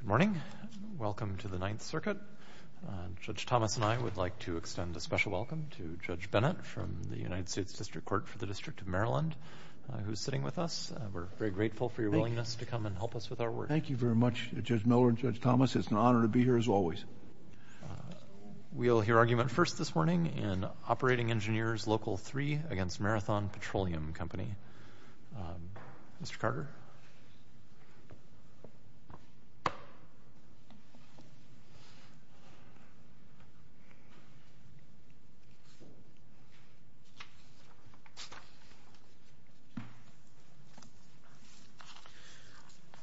Good morning. Welcome to the Ninth Circuit. Judge Thomas and I would like to extend a special welcome to Judge Bennett from the United States District Court for the District of Maryland, who's sitting with us. We're very grateful for your willingness to come and help us with our work. Thank you very much, Judge Miller and Judge Thomas. It's an honor to be here, as always. We'll hear argument first this morning in Operating Engineers Local 3 v. Marathon Petroleum Company. Mr. Carter?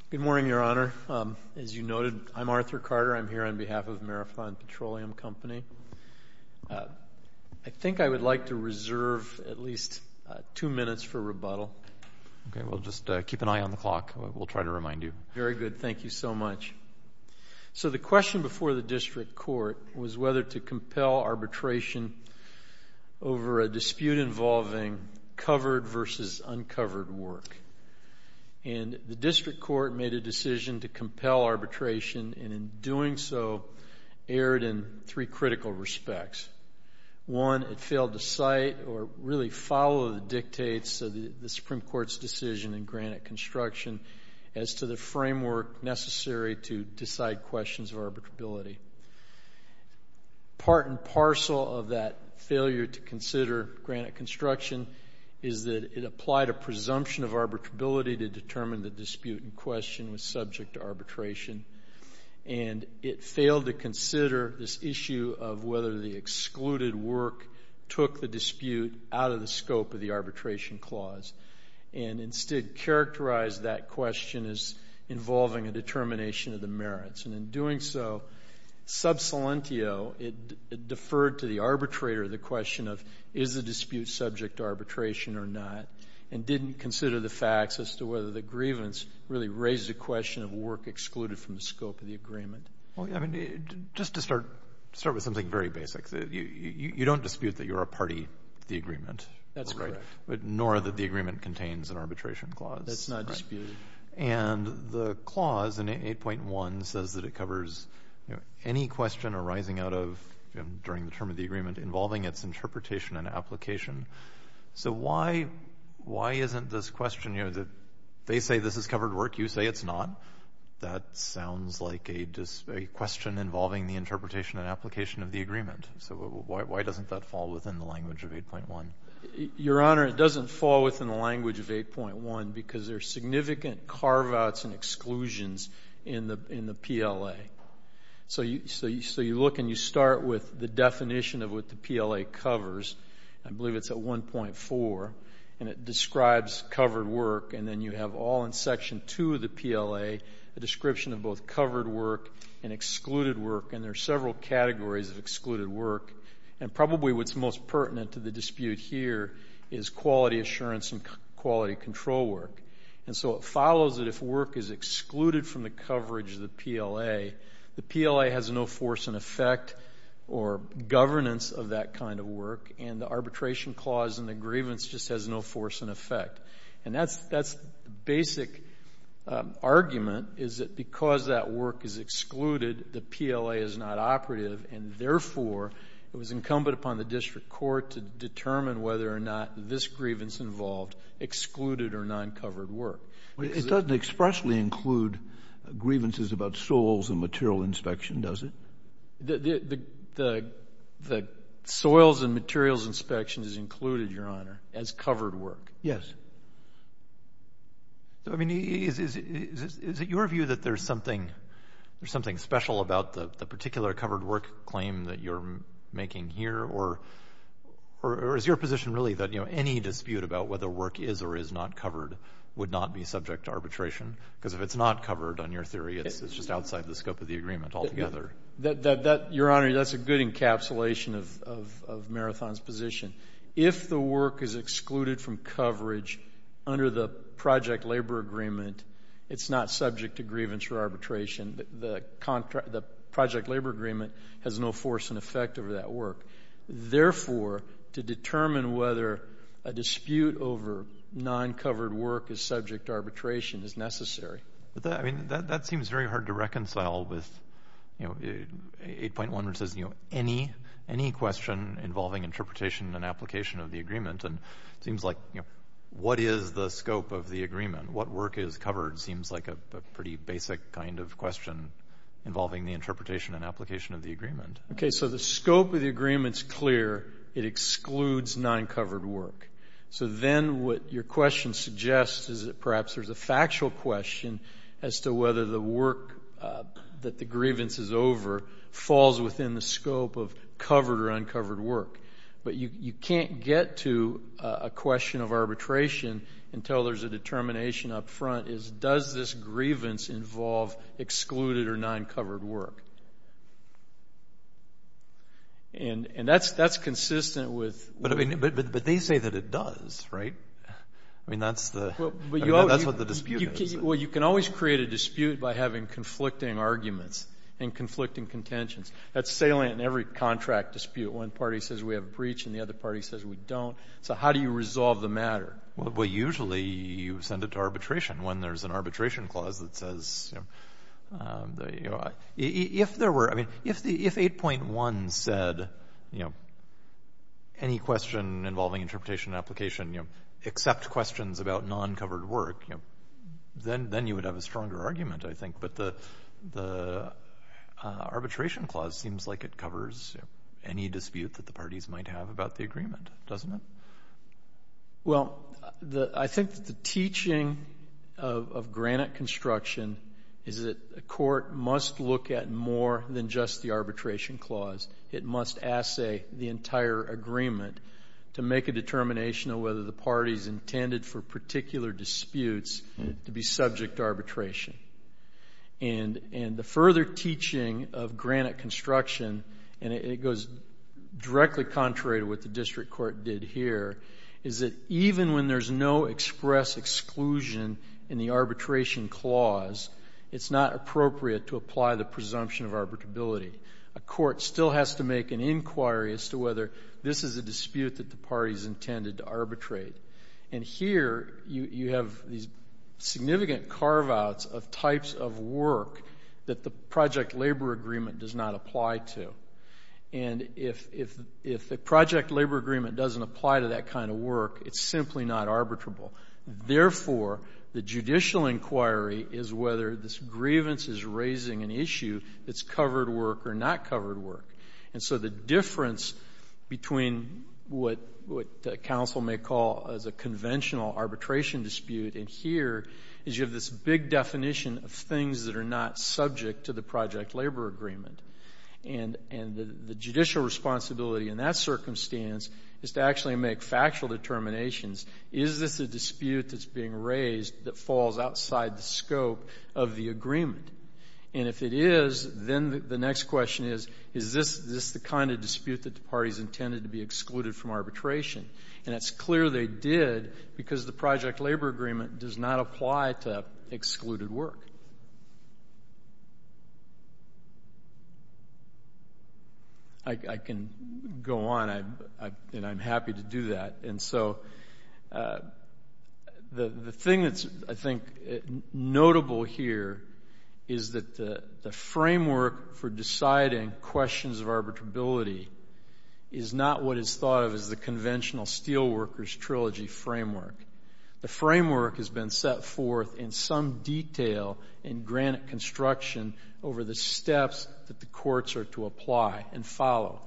Good morning, Your Honor. As you noted, I'm Arthur Carter. I'm here on behalf of Marathon for rebuttal. Okay. We'll just keep an eye on the clock. We'll try to remind you. Very good. Thank you so much. So the question before the District Court was whether to compel arbitration over a dispute involving covered versus uncovered work. And the District Court made a decision to compel arbitration, and in doing so, erred in three critical respects. One, it failed to cite or really follow the dictates of the Supreme Court's decision in granite construction as to the framework necessary to decide questions of arbitrability. Part and parcel of that failure to consider granite construction is that it applied a presumption of arbitrability to determine the dispute in question was subject to arbitration. And it failed to consider this issue of whether the excluded work took the dispute out of the scope of the arbitration clause, and instead characterized that question as involving a determination of the merits. And in doing so, sub salientio, it deferred to the arbitrator the question of is the dispute subject to arbitration or not, and didn't consider the facts as to whether the grievance really raised the question of work excluded from the scope of the agreement. Well, I mean, just to start with something very basic, you don't dispute that you're a party to the agreement. That's correct. Nor that the agreement contains an arbitration clause. That's not disputed. And the clause in 8.1 says that it covers any question arising out of during the term of the agreement involving its interpretation and application. So why isn't this question you know, they say this is covered work, you say it's not. That sounds like a question involving the interpretation and application of the agreement. So why doesn't that fall within the language of 8.1? Your Honor, it doesn't fall within the language of 8.1 because there are significant carve outs and exclusions in the PLA. So you look and you start with the definition of what the PLA covers. I believe it's at 1.4. And it describes covered work. And then you have all in Section 2 of the PLA a description of both covered work and excluded work. And there are several categories of excluded work. And probably what's most pertinent to the dispute here is quality assurance and quality control work. And so it follows that if work is excluded from the coverage of the PLA, the PLA has no force and effect or governance of that kind of work. And the arbitration clause in the grievance just has no force and effect. And that's the basic argument, is that because that work is excluded, the PLA is not operative. And therefore, it was incumbent upon the district court to determine whether or not this grievance involved excluded or noncovered work. It doesn't expressly include grievances about souls and material inspection, does it? No. The soils and materials inspection is included, Your Honor, as covered work. Yes. So, I mean, is it your view that there's something special about the particular covered work claim that you're making here? Or is your position really that any dispute about whether work is or is not covered would not be subject to arbitration? Because if it's not covered on your theory, it's just outside the scope of the agreement altogether. Your Honor, that's a good encapsulation of Marathon's position. If the work is excluded from coverage under the project labor agreement, it's not subject to grievance or arbitration. The project labor agreement has no force and effect over that work. Therefore, to determine whether a dispute over noncovered work is subject to arbitration is necessary. But that seems very hard to reconcile with 8.1, which says any question involving interpretation and application of the agreement. And it seems like what is the scope of the agreement? What work is covered seems like a pretty basic kind of question involving the interpretation and application of the agreement. Okay. So the scope of the agreement is clear. It excludes noncovered work. So then what your question suggests is that perhaps there's a factual question as to whether the work that the grievance is over falls within the scope of covered or uncovered work. But you can't get to a question of arbitration until there's a determination up front as does this grievance involve excluded or noncovered work. And that's consistent with... I mean, that's the... Well, but you always... That's what the dispute is. Well, you can always create a dispute by having conflicting arguments and conflicting contentions. That's salient in every contract dispute. One party says we have a breach and the other party says we don't. So how do you resolve the matter? Well, usually you send it to arbitration when there's an arbitration clause that says, you know, if there were, I mean, if 8.1 said, you know, any question involving interpretation and application, you know, except questions about noncovered work, you know, then you would have a stronger argument, I think. But the arbitration clause seems like it covers any dispute that the parties might have about the agreement, doesn't it? Well, I think that the teaching of granite construction is that a court must look at more than just the arbitration clause. It must assay the entire agreement to make a determination of whether the party's intended for particular disputes to be subject to arbitration. And the further teaching of granite construction, and it goes directly contrary to what the district court did here, is that even when there's no express exclusion in the arbitration clause, it's not appropriate to apply the presumption of arbitrability. A court still has to make an inquiry as to whether this is a dispute that the party's intended to arbitrate. And here you have these significant carve-outs of types of work that the project labor agreement does not apply to. And if the project labor agreement doesn't apply to that kind of work, it's simply not arbitrable. Therefore, the judicial inquiry is whether this grievance is raising an issue that's covered work or not covered work. And so the difference between what counsel may call as a conventional arbitration dispute in here is you have this big definition of things that are not subject to the project labor agreement. And the judicial responsibility in that circumstance is to actually make factual determinations. Is this a dispute that's being raised that falls outside the scope of the agreement? And if it is, then the next question is, is this the kind of dispute that the party's intended to be excluded from arbitration? And it's clear they did because the project labor agreement does not apply to excluded work. I can go on, and I'm happy to do that. And so the thing that's, I think, notable here is that the framework for deciding questions of arbitrability is not what is thought of as the conventional Steelworkers Trilogy framework. The framework has been set forth in some detail in granite construction over the steps that the courts are to apply and follow.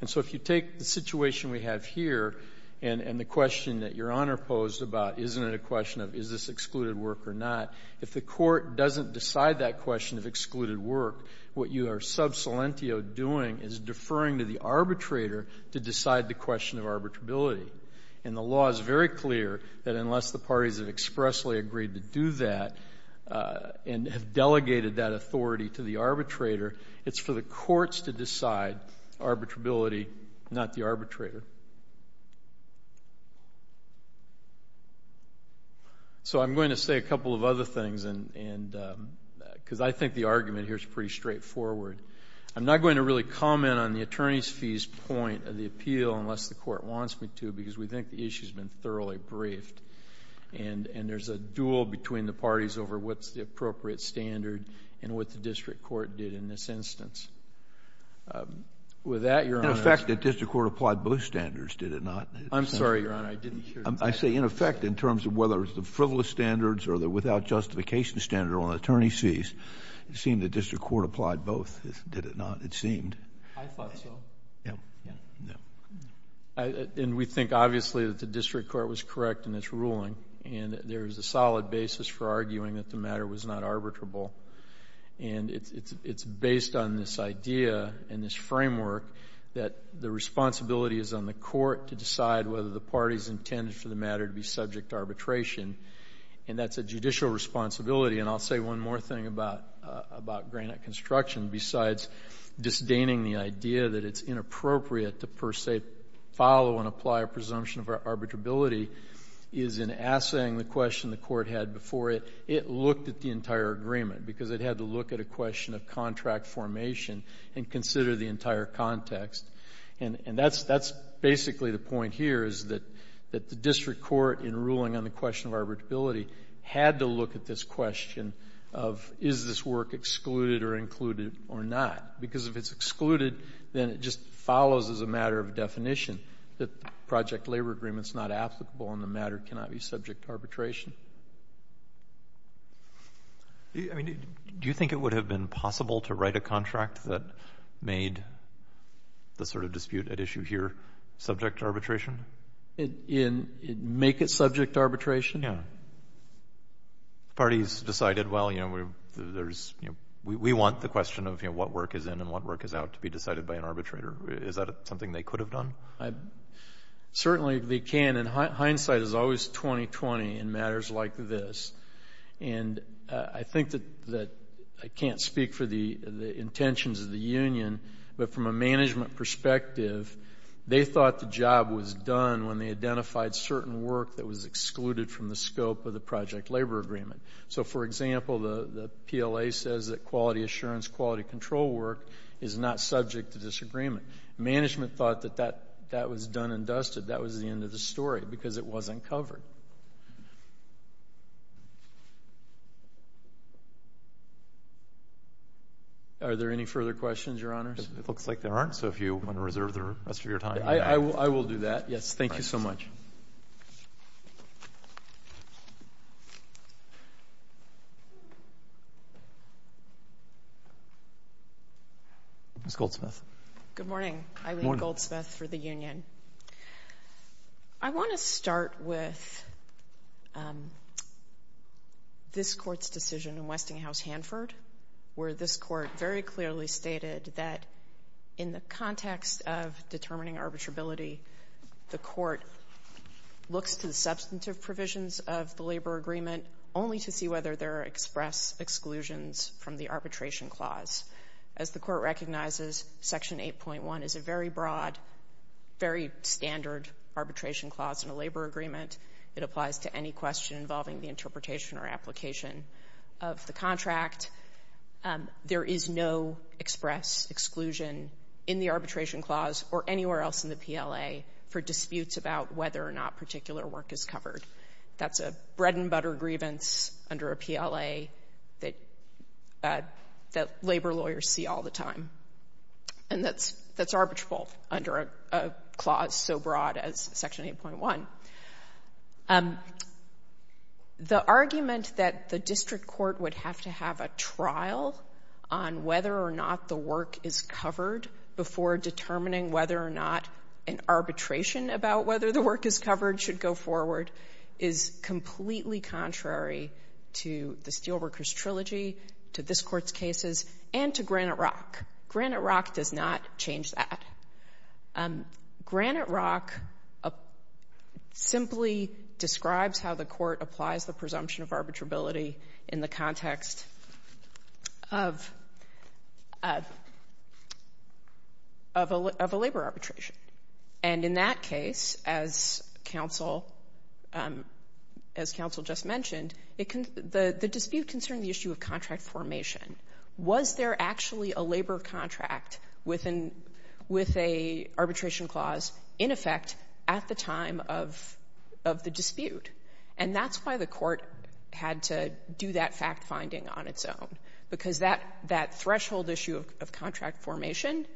And so if you take the situation we have here and the question that Your Honor posed about isn't it a question of is this excluded work or not, if the court doesn't decide that question of excluded work, what you are sub salientio doing is deferring to the arbitrator to decide the question of arbitrability. And the law is very clear that unless the parties have expressly agreed to do that and have delegated that authority to the arbitrator, it's for the courts to decide arbitrability, not the arbitrator. So I'm going to say a couple of other things because I think the argument here is pretty straightforward. I'm not going to really comment on the attorney's fees point of the appeal unless the court wants me to because we think the issue has been thoroughly briefed and there's a duel between the parties over what's the appropriate standard and what the district court did in this instance. With that, Your Honor — In effect, the district court applied both standards, did it not? I'm sorry, Your Honor, I didn't hear that. I say in effect in terms of whether it's the frivolous standards or the without justification standard or the attorney's fees, it seemed the district court applied both, did it not? It seemed. I thought so. Yeah. Yeah. Yeah. And we think obviously that the district court was correct in its ruling and there is a solid basis for arguing that the matter was not arbitrable. And it's based on this idea and this framework that the responsibility is on the court to decide whether the parties intended for the And I'll say one more thing about Granite Construction besides disdaining the idea that it's inappropriate to per se follow and apply a presumption of arbitrability is in assaying the question the court had before it, it looked at the entire agreement because it had to look at a question of contract formation and consider the entire context. And that's basically the point here is that the district court in ruling on the question of arbitrability had to look at this question of is this work excluded or included or not? Because if it's excluded, then it just follows as a matter of definition that the project labor agreement is not applicable and the matter cannot be subject to arbitration. I mean, do you think it would have been possible to write a contract that made the sort of dispute at issue here subject to arbitration? Make it subject to arbitration? Yeah. The parties decided, well, you know, there's, you know, we want the question of, you know, what work is in and what work is out to be decided by an arbitrator. Is that something they could have done? Certainly they can. And hindsight is always 20-20 in matters like this. And I think that I can't speak for the intentions of the union, but from a management perspective, they thought the job was done when they identified certain work that was excluded from the scope of the project labor agreement. So, for example, the PLA says that quality assurance, quality control work is not subject to disagreement. Management thought that that was done and dusted. That was the end of the story because it wasn't covered. Are there any further questions, Your Honors? It looks like there aren't. So if you want to reserve the rest of your time. I will do that. Yes. Thank you so much. Ms. Goldsmith. Good morning. I'm Eileen Goldsmith for the union. I want to start with this Court's decision in Westinghouse-Hanford, where this Court very clearly stated that in the context of arbitrability, the Court looks to the substantive provisions of the labor agreement only to see whether there are express exclusions from the arbitration clause. As the Court recognizes, Section 8.1 is a very broad, very standard arbitration clause in a labor agreement. It applies to any question involving the interpretation or application of the contract. There is no express exclusion in the arbitration clause or anywhere else in the PLA for disputes about whether or not particular work is covered. That's a bread-and-butter grievance under a PLA that labor lawyers see all the time. And that's arbitrable under a clause so broad as Section 8.1. The argument that the district court would have to have a trial on whether or not the work is covered before determining whether or not an arbitration about whether the work is covered should go forward is completely contrary to the Steelworkers Trilogy, to this describes how the Court applies the presumption of arbitrability in the context of a labor arbitration. And in that case, as counsel just mentioned, the dispute concerning the issue of contract formation, was there actually a labor contract with an arbitration clause in effect at the time of the dispute. And that's why the Court had to do that fact-finding on its own, because that threshold issue of contract formation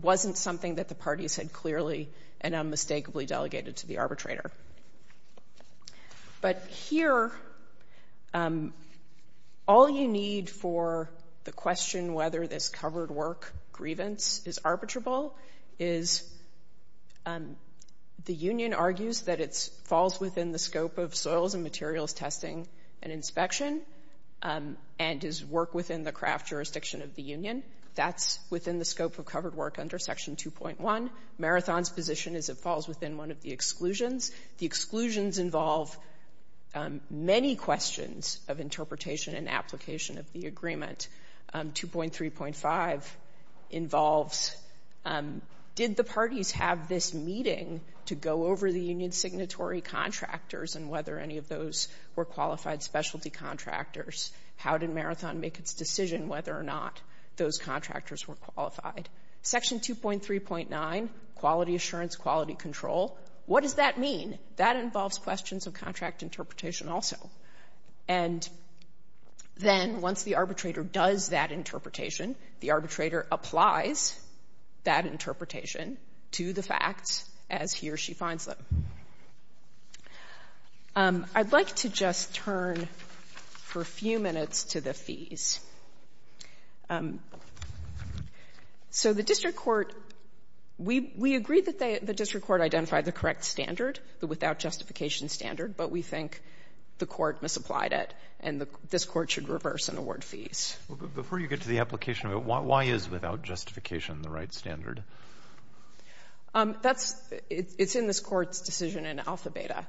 wasn't something that the parties had clearly and unmistakably delegated to the arbitrator. But here, all you need for the question whether this covered work grievance is arbitrable is the union argues that it falls within the scope of soils and materials testing and inspection and is work within the craft jurisdiction of the union. That's within the scope of covered work under Section 2.1. Marathon's position is it falls within one of the exclusions. The exclusions involve many questions of interpretation and application of the agreement. 2.3.5 involves did the parties have this meeting to go over the union's signatory contractors and whether any of those were qualified specialty contractors? How did Marathon make its decision whether or not those contractors were qualified? Section 2.3.9, quality assurance, quality control, what does that mean? That involves questions of contract interpretation also. And then once the arbitrator does that interpretation, the arbitrator applies that interpretation to the facts as he or she finds them. I'd like to just turn for a few minutes to the fees. So the district court, we agree that the district court identified the correct standard, the without justification standard, but we think the court misapplied it and this court should reverse and award fees. But before you get to the application of it, why is without justification the right standard? That's, it's in this court's decision in alpha beta.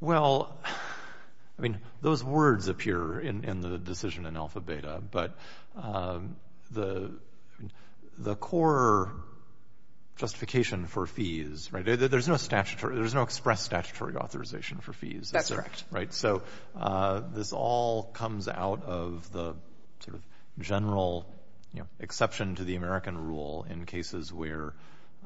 Well, I mean, those words appear in the decision in alpha beta, but the core justification for fees, right, there's no statutory, there's no express statutory authorization for fees. That's correct. Right. So this all comes out of the sort of general, you know, exception to the American rule in cases where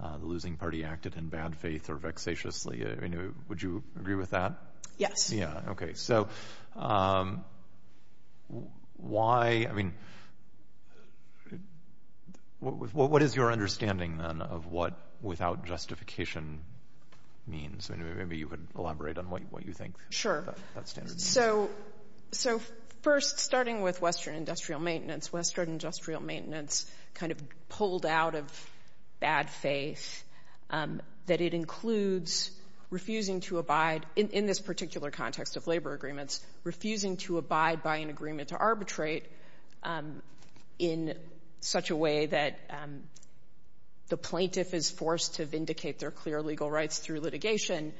the losing party acted in bad faith or vexatiously. Would you agree with that? Yes. Yeah. Okay. So why, I mean, what is your understanding then of what without justification means? I mean, maybe you could elaborate on what you think. Sure. So first, starting with Western industrial maintenance, Western industrial maintenance kind of pulled out of bad faith, that it includes refusing to abide in this particular context of labor agreements, refusing to abide by an agreement to arbitrate in such a way that the plaintiff is forced to vindicate their clear legal rights through litigation.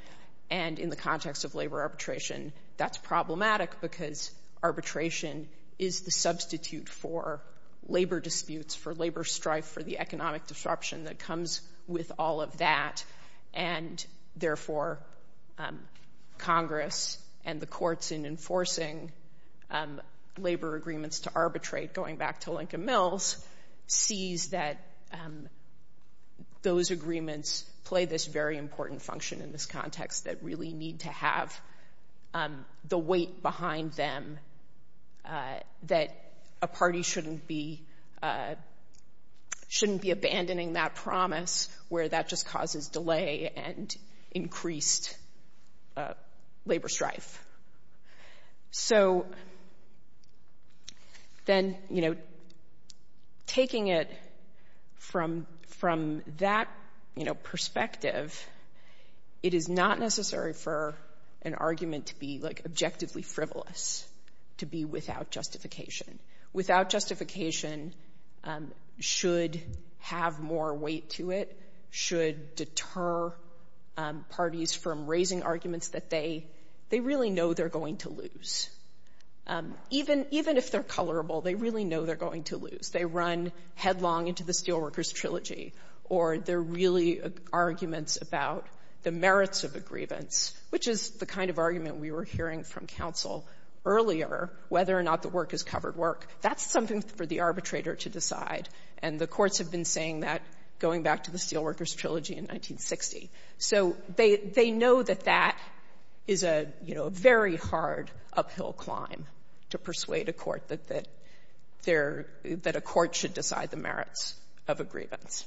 And in the context of labor arbitration, that's problematic because arbitration is the substitute for labor disputes, for labor strife, for the economic disruption that comes with all of that. And therefore, Congress and the courts in enforcing labor agreements to arbitrate, going back to Lincoln Mills, sees that those agreements play this very important function in this context that really need to have the weight behind them, that a party shouldn't be, shouldn't be abandoning that promise where that just causes delay and increased labor strife. So, then, you know, taking it from that, you know, perspective, it is not necessary for an argument to be, like, objectively frivolous, to be without justification. Without justification should have more weight to it, should deter parties from raising arguments that they really know they're going to lose. Even if they're colorable, they really know they're going to lose. They run headlong into the Steelworkers Trilogy, or they're really arguments about the merits of a grievance, which is the kind of argument we were hearing from counsel earlier, whether or not the work is covered work. That's something for the arbitrator to decide. And the courts have been saying that, going back to the Steelworkers Trilogy in 1960. So, they know that that is a, you know, a very hard uphill climb to persuade a court that there, that a court should decide the merits of a grievance.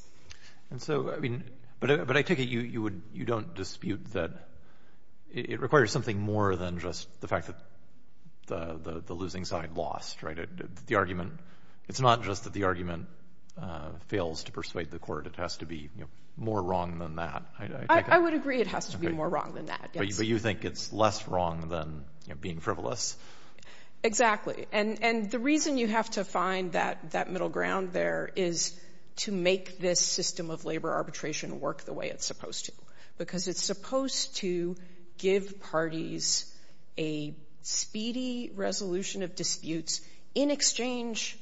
And so, I mean, but I take it you would, you don't dispute that it requires something more than just the fact that the losing side lost, right? The argument, it's not just that the argument fails to persuade the court. It has to be, you know, more wrong than that. I would agree it has to be more wrong than that, yes. But you think it's less wrong than, you know, being frivolous? Exactly. And the reason you have to find that middle ground there is to make this system of labor arbitration work the way it's supposed to. Because it's supposed to give parties a speedy resolution of disputes in exchange,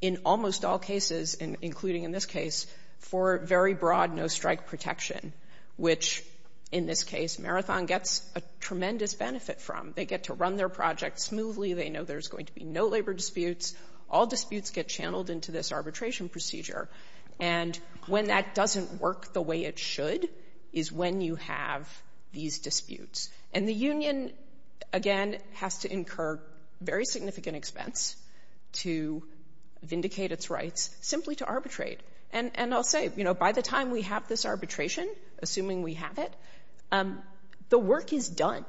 in almost all cases, including in this case, for very broad no-strike protection, which, in this case, Marathon gets a tremendous benefit from. They get to run their project smoothly. They know there's going to be no labor disputes. All disputes get channeled into this arbitration procedure. And when that doesn't work the state, again, has to incur very significant expense to vindicate its rights simply to arbitrate. And I'll say, you know, by the time we have this arbitration, assuming we have it, the work is done.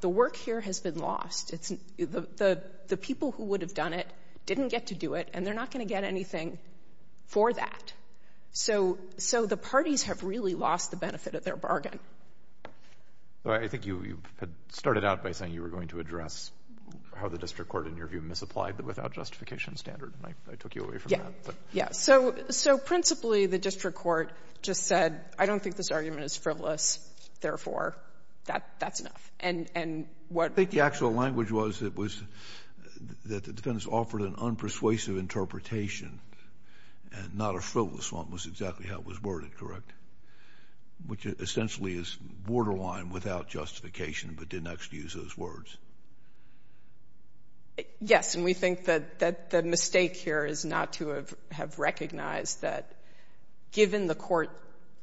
The work here has been lost. The people who would have done it didn't get to do it, and they're not going to get anything for that. So the parties have really lost the benefit of their bargain. Alito. I think you had started out by saying you were going to address how the district court, in your view, misapplied the without justification standard, and I took you away from that. Yes. So principally, the district court just said, I don't think this argument is frivolous, therefore, that's enough. And what I think the actual language was, it was that the defense offered an unpersuasive interpretation, and not a frivolous one, was exactly how it was worded, correct? Which essentially is borderline without justification, but didn't actually use those words. Yes. And we think that the mistake here is not to have recognized that, given the court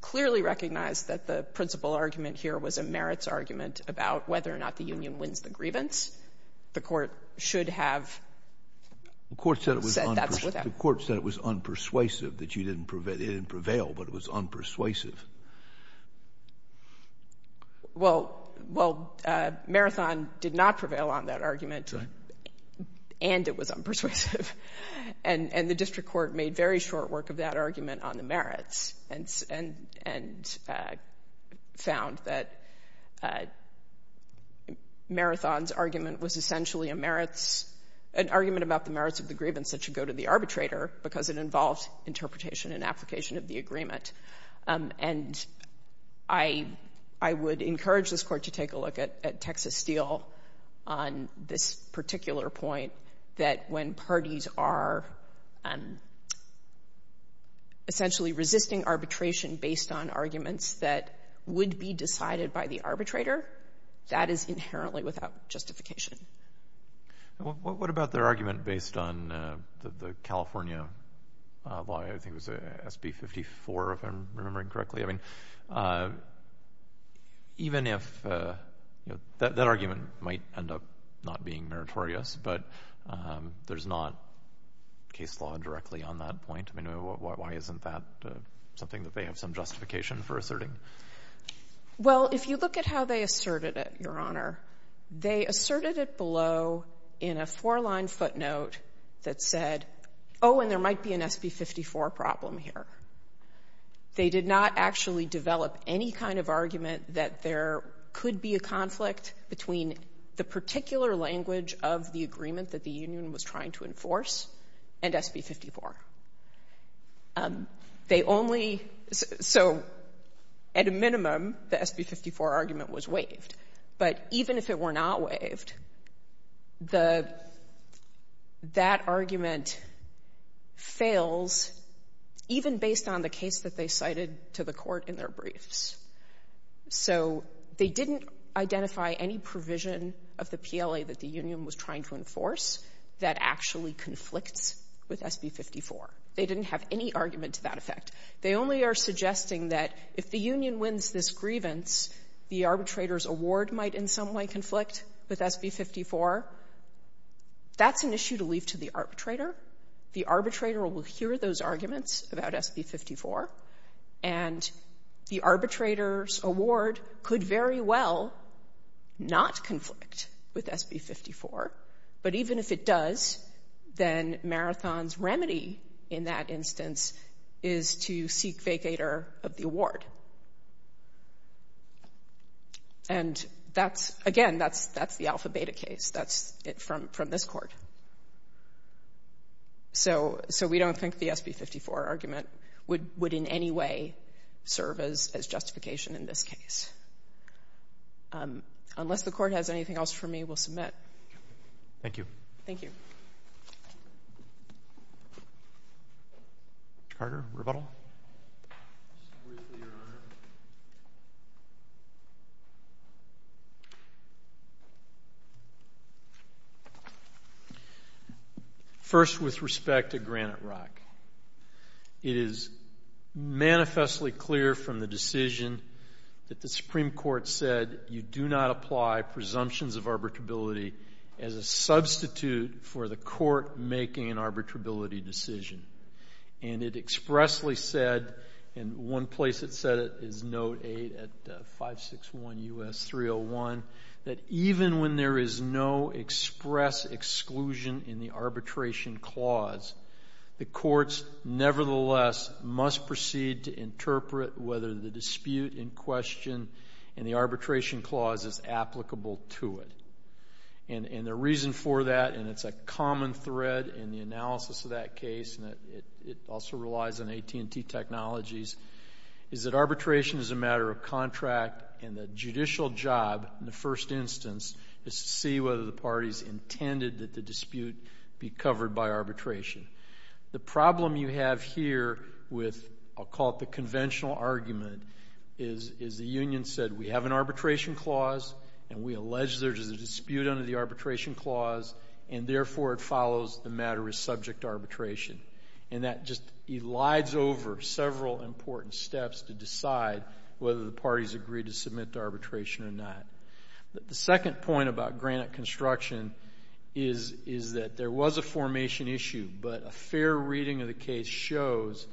clearly recognized that the principal argument here was a merits argument about whether or not the union wins the grievance, the court should have said that's without. The court said it was unpersuasive, that it didn't prevail, but it was unpersuasive. Well, Marathon did not prevail on that argument, and it was unpersuasive. And the district court made very short work of that argument on the merits, and found that Marathon's argument was essentially a merits, an argument about the merits of the grievance that should go to the arbitrator, because it involves interpretation and application of the agreement. And I would encourage this court to take a look at Texas Steel on this particular point, that when parties are essentially resisting arbitration based on arguments that would be decided by the arbitrator, that is inherently without justification. And what about their argument based on the California law, I think it was SB 54, if I'm remembering correctly? I mean, even if that argument might end up not being meritorious, but there's not case law directly on that point. I mean, why isn't that something that they have some justification for asserting? Well, if you look at how they asserted it, Your Honor, they asserted it below in a four-line footnote that said, oh, and there might be an SB 54 problem here. They did not actually develop any kind of argument that there could be a conflict between the particular language of the agreement that the union was trying to enforce and SB 54. They only — so the at minimum, the SB 54 argument was waived. But even if it were not waived, the — that argument fails even based on the case that they cited to the court in their briefs. So they didn't identify any provision of the PLA that the union was trying to enforce that actually conflicts with SB 54. They didn't have any argument to that effect. They only are suggesting that if the union wins this grievance, the arbitrator's award might in some way conflict with SB 54. That's an issue to leave to the arbitrator. The arbitrator will hear those arguments about SB 54, and the arbitrator's award could very well not conflict with SB 54. But even if it does, then Marathon's remedy in that instance is to seek vacator of the award. And that's — again, that's the Alpha-Beta case. That's it from this Court. So we don't think the SB 54 argument would in any way serve as justification in this case. Unless the Court has anything else for me, we'll submit. Thank you. Thank you. Mr. Carter, rebuttal? First, with respect to Granite Rock, it is manifestly clear from the decision that the Supreme Court said you do not apply presumptions of arbitrability as a substitute for the Court making an arbitrability decision. And it expressly said — and one place it said it is Note 8 at 561 U.S. 301 — that even when there is no express exclusion in the arbitration clause, the courts nevertheless must proceed to interpret whether the dispute in question in the arbitration clause is applicable to it. And the reason for that — and it's a common thread in the analysis of that case, and it also relies on AT&T technologies — is that arbitration is a matter of contract, and the judicial job in the first instance is to see whether the parties intended that the dispute be covered by arbitration. The problem you have here with — I'll call it the conventional argument — is the union said we have an arbitration clause, and we allege there is a dispute under the arbitration clause, and therefore it follows the matter is subject to arbitration. And that just elides over several important steps to decide whether the parties agree to submit to arbitration or not. The second point about granite construction is that there was a formation issue, but a fair reading of the case shows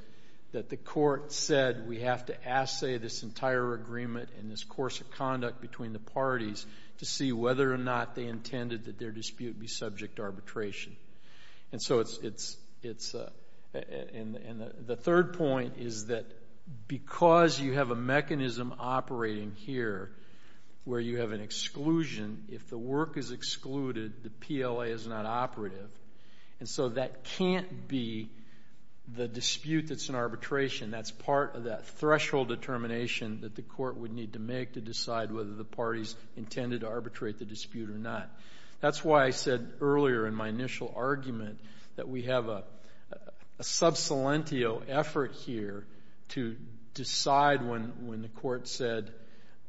that the court said we have to assay this entire agreement and this course of conduct between the parties to see whether or not they intended that their dispute be subject to arbitration. And so it's — and the third point is that because you have a mechanism operating here where you have an exclusion, if the work is excluded, the PLA is not operative. And so that can't be the dispute that's in arbitration. That's part of that threshold determination that the court would need to make to decide whether the parties intended to arbitrate the dispute or not. That's why I said earlier in my initial argument that we have a sub silentio effort here to decide when the court said,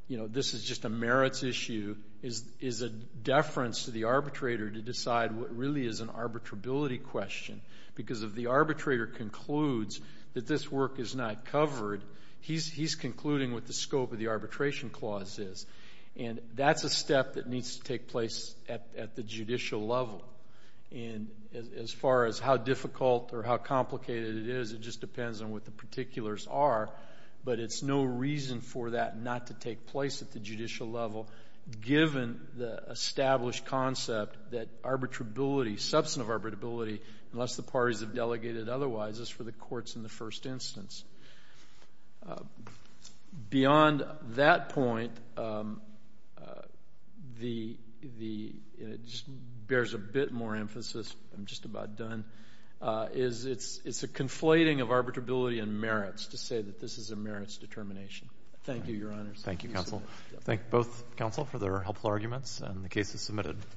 you know, this is just a merits issue, is a deference to the arbitrator to decide what really is an arbitrability question because if the arbitrator concludes that this work is not covered, he's concluding what the scope of the arbitration clause is. And that's a step that needs to take place at the judicial level. And as far as how difficult or how complicated it is, it just depends on what the particulars are. But it's no reason for that not to take place at the judicial level given the established concept that arbitrability, substantive arbitrability, unless the parties have delegated otherwise, is for the courts in the first instance. Beyond that point, it just bears a bit more emphasis, I'm just about done, is it's a conflating of arbitrability and merits to say that this is a merits determination. Thank you, Your Honors. Thank you, counsel. Thank both counsel for their helpful arguments and the cases submitted.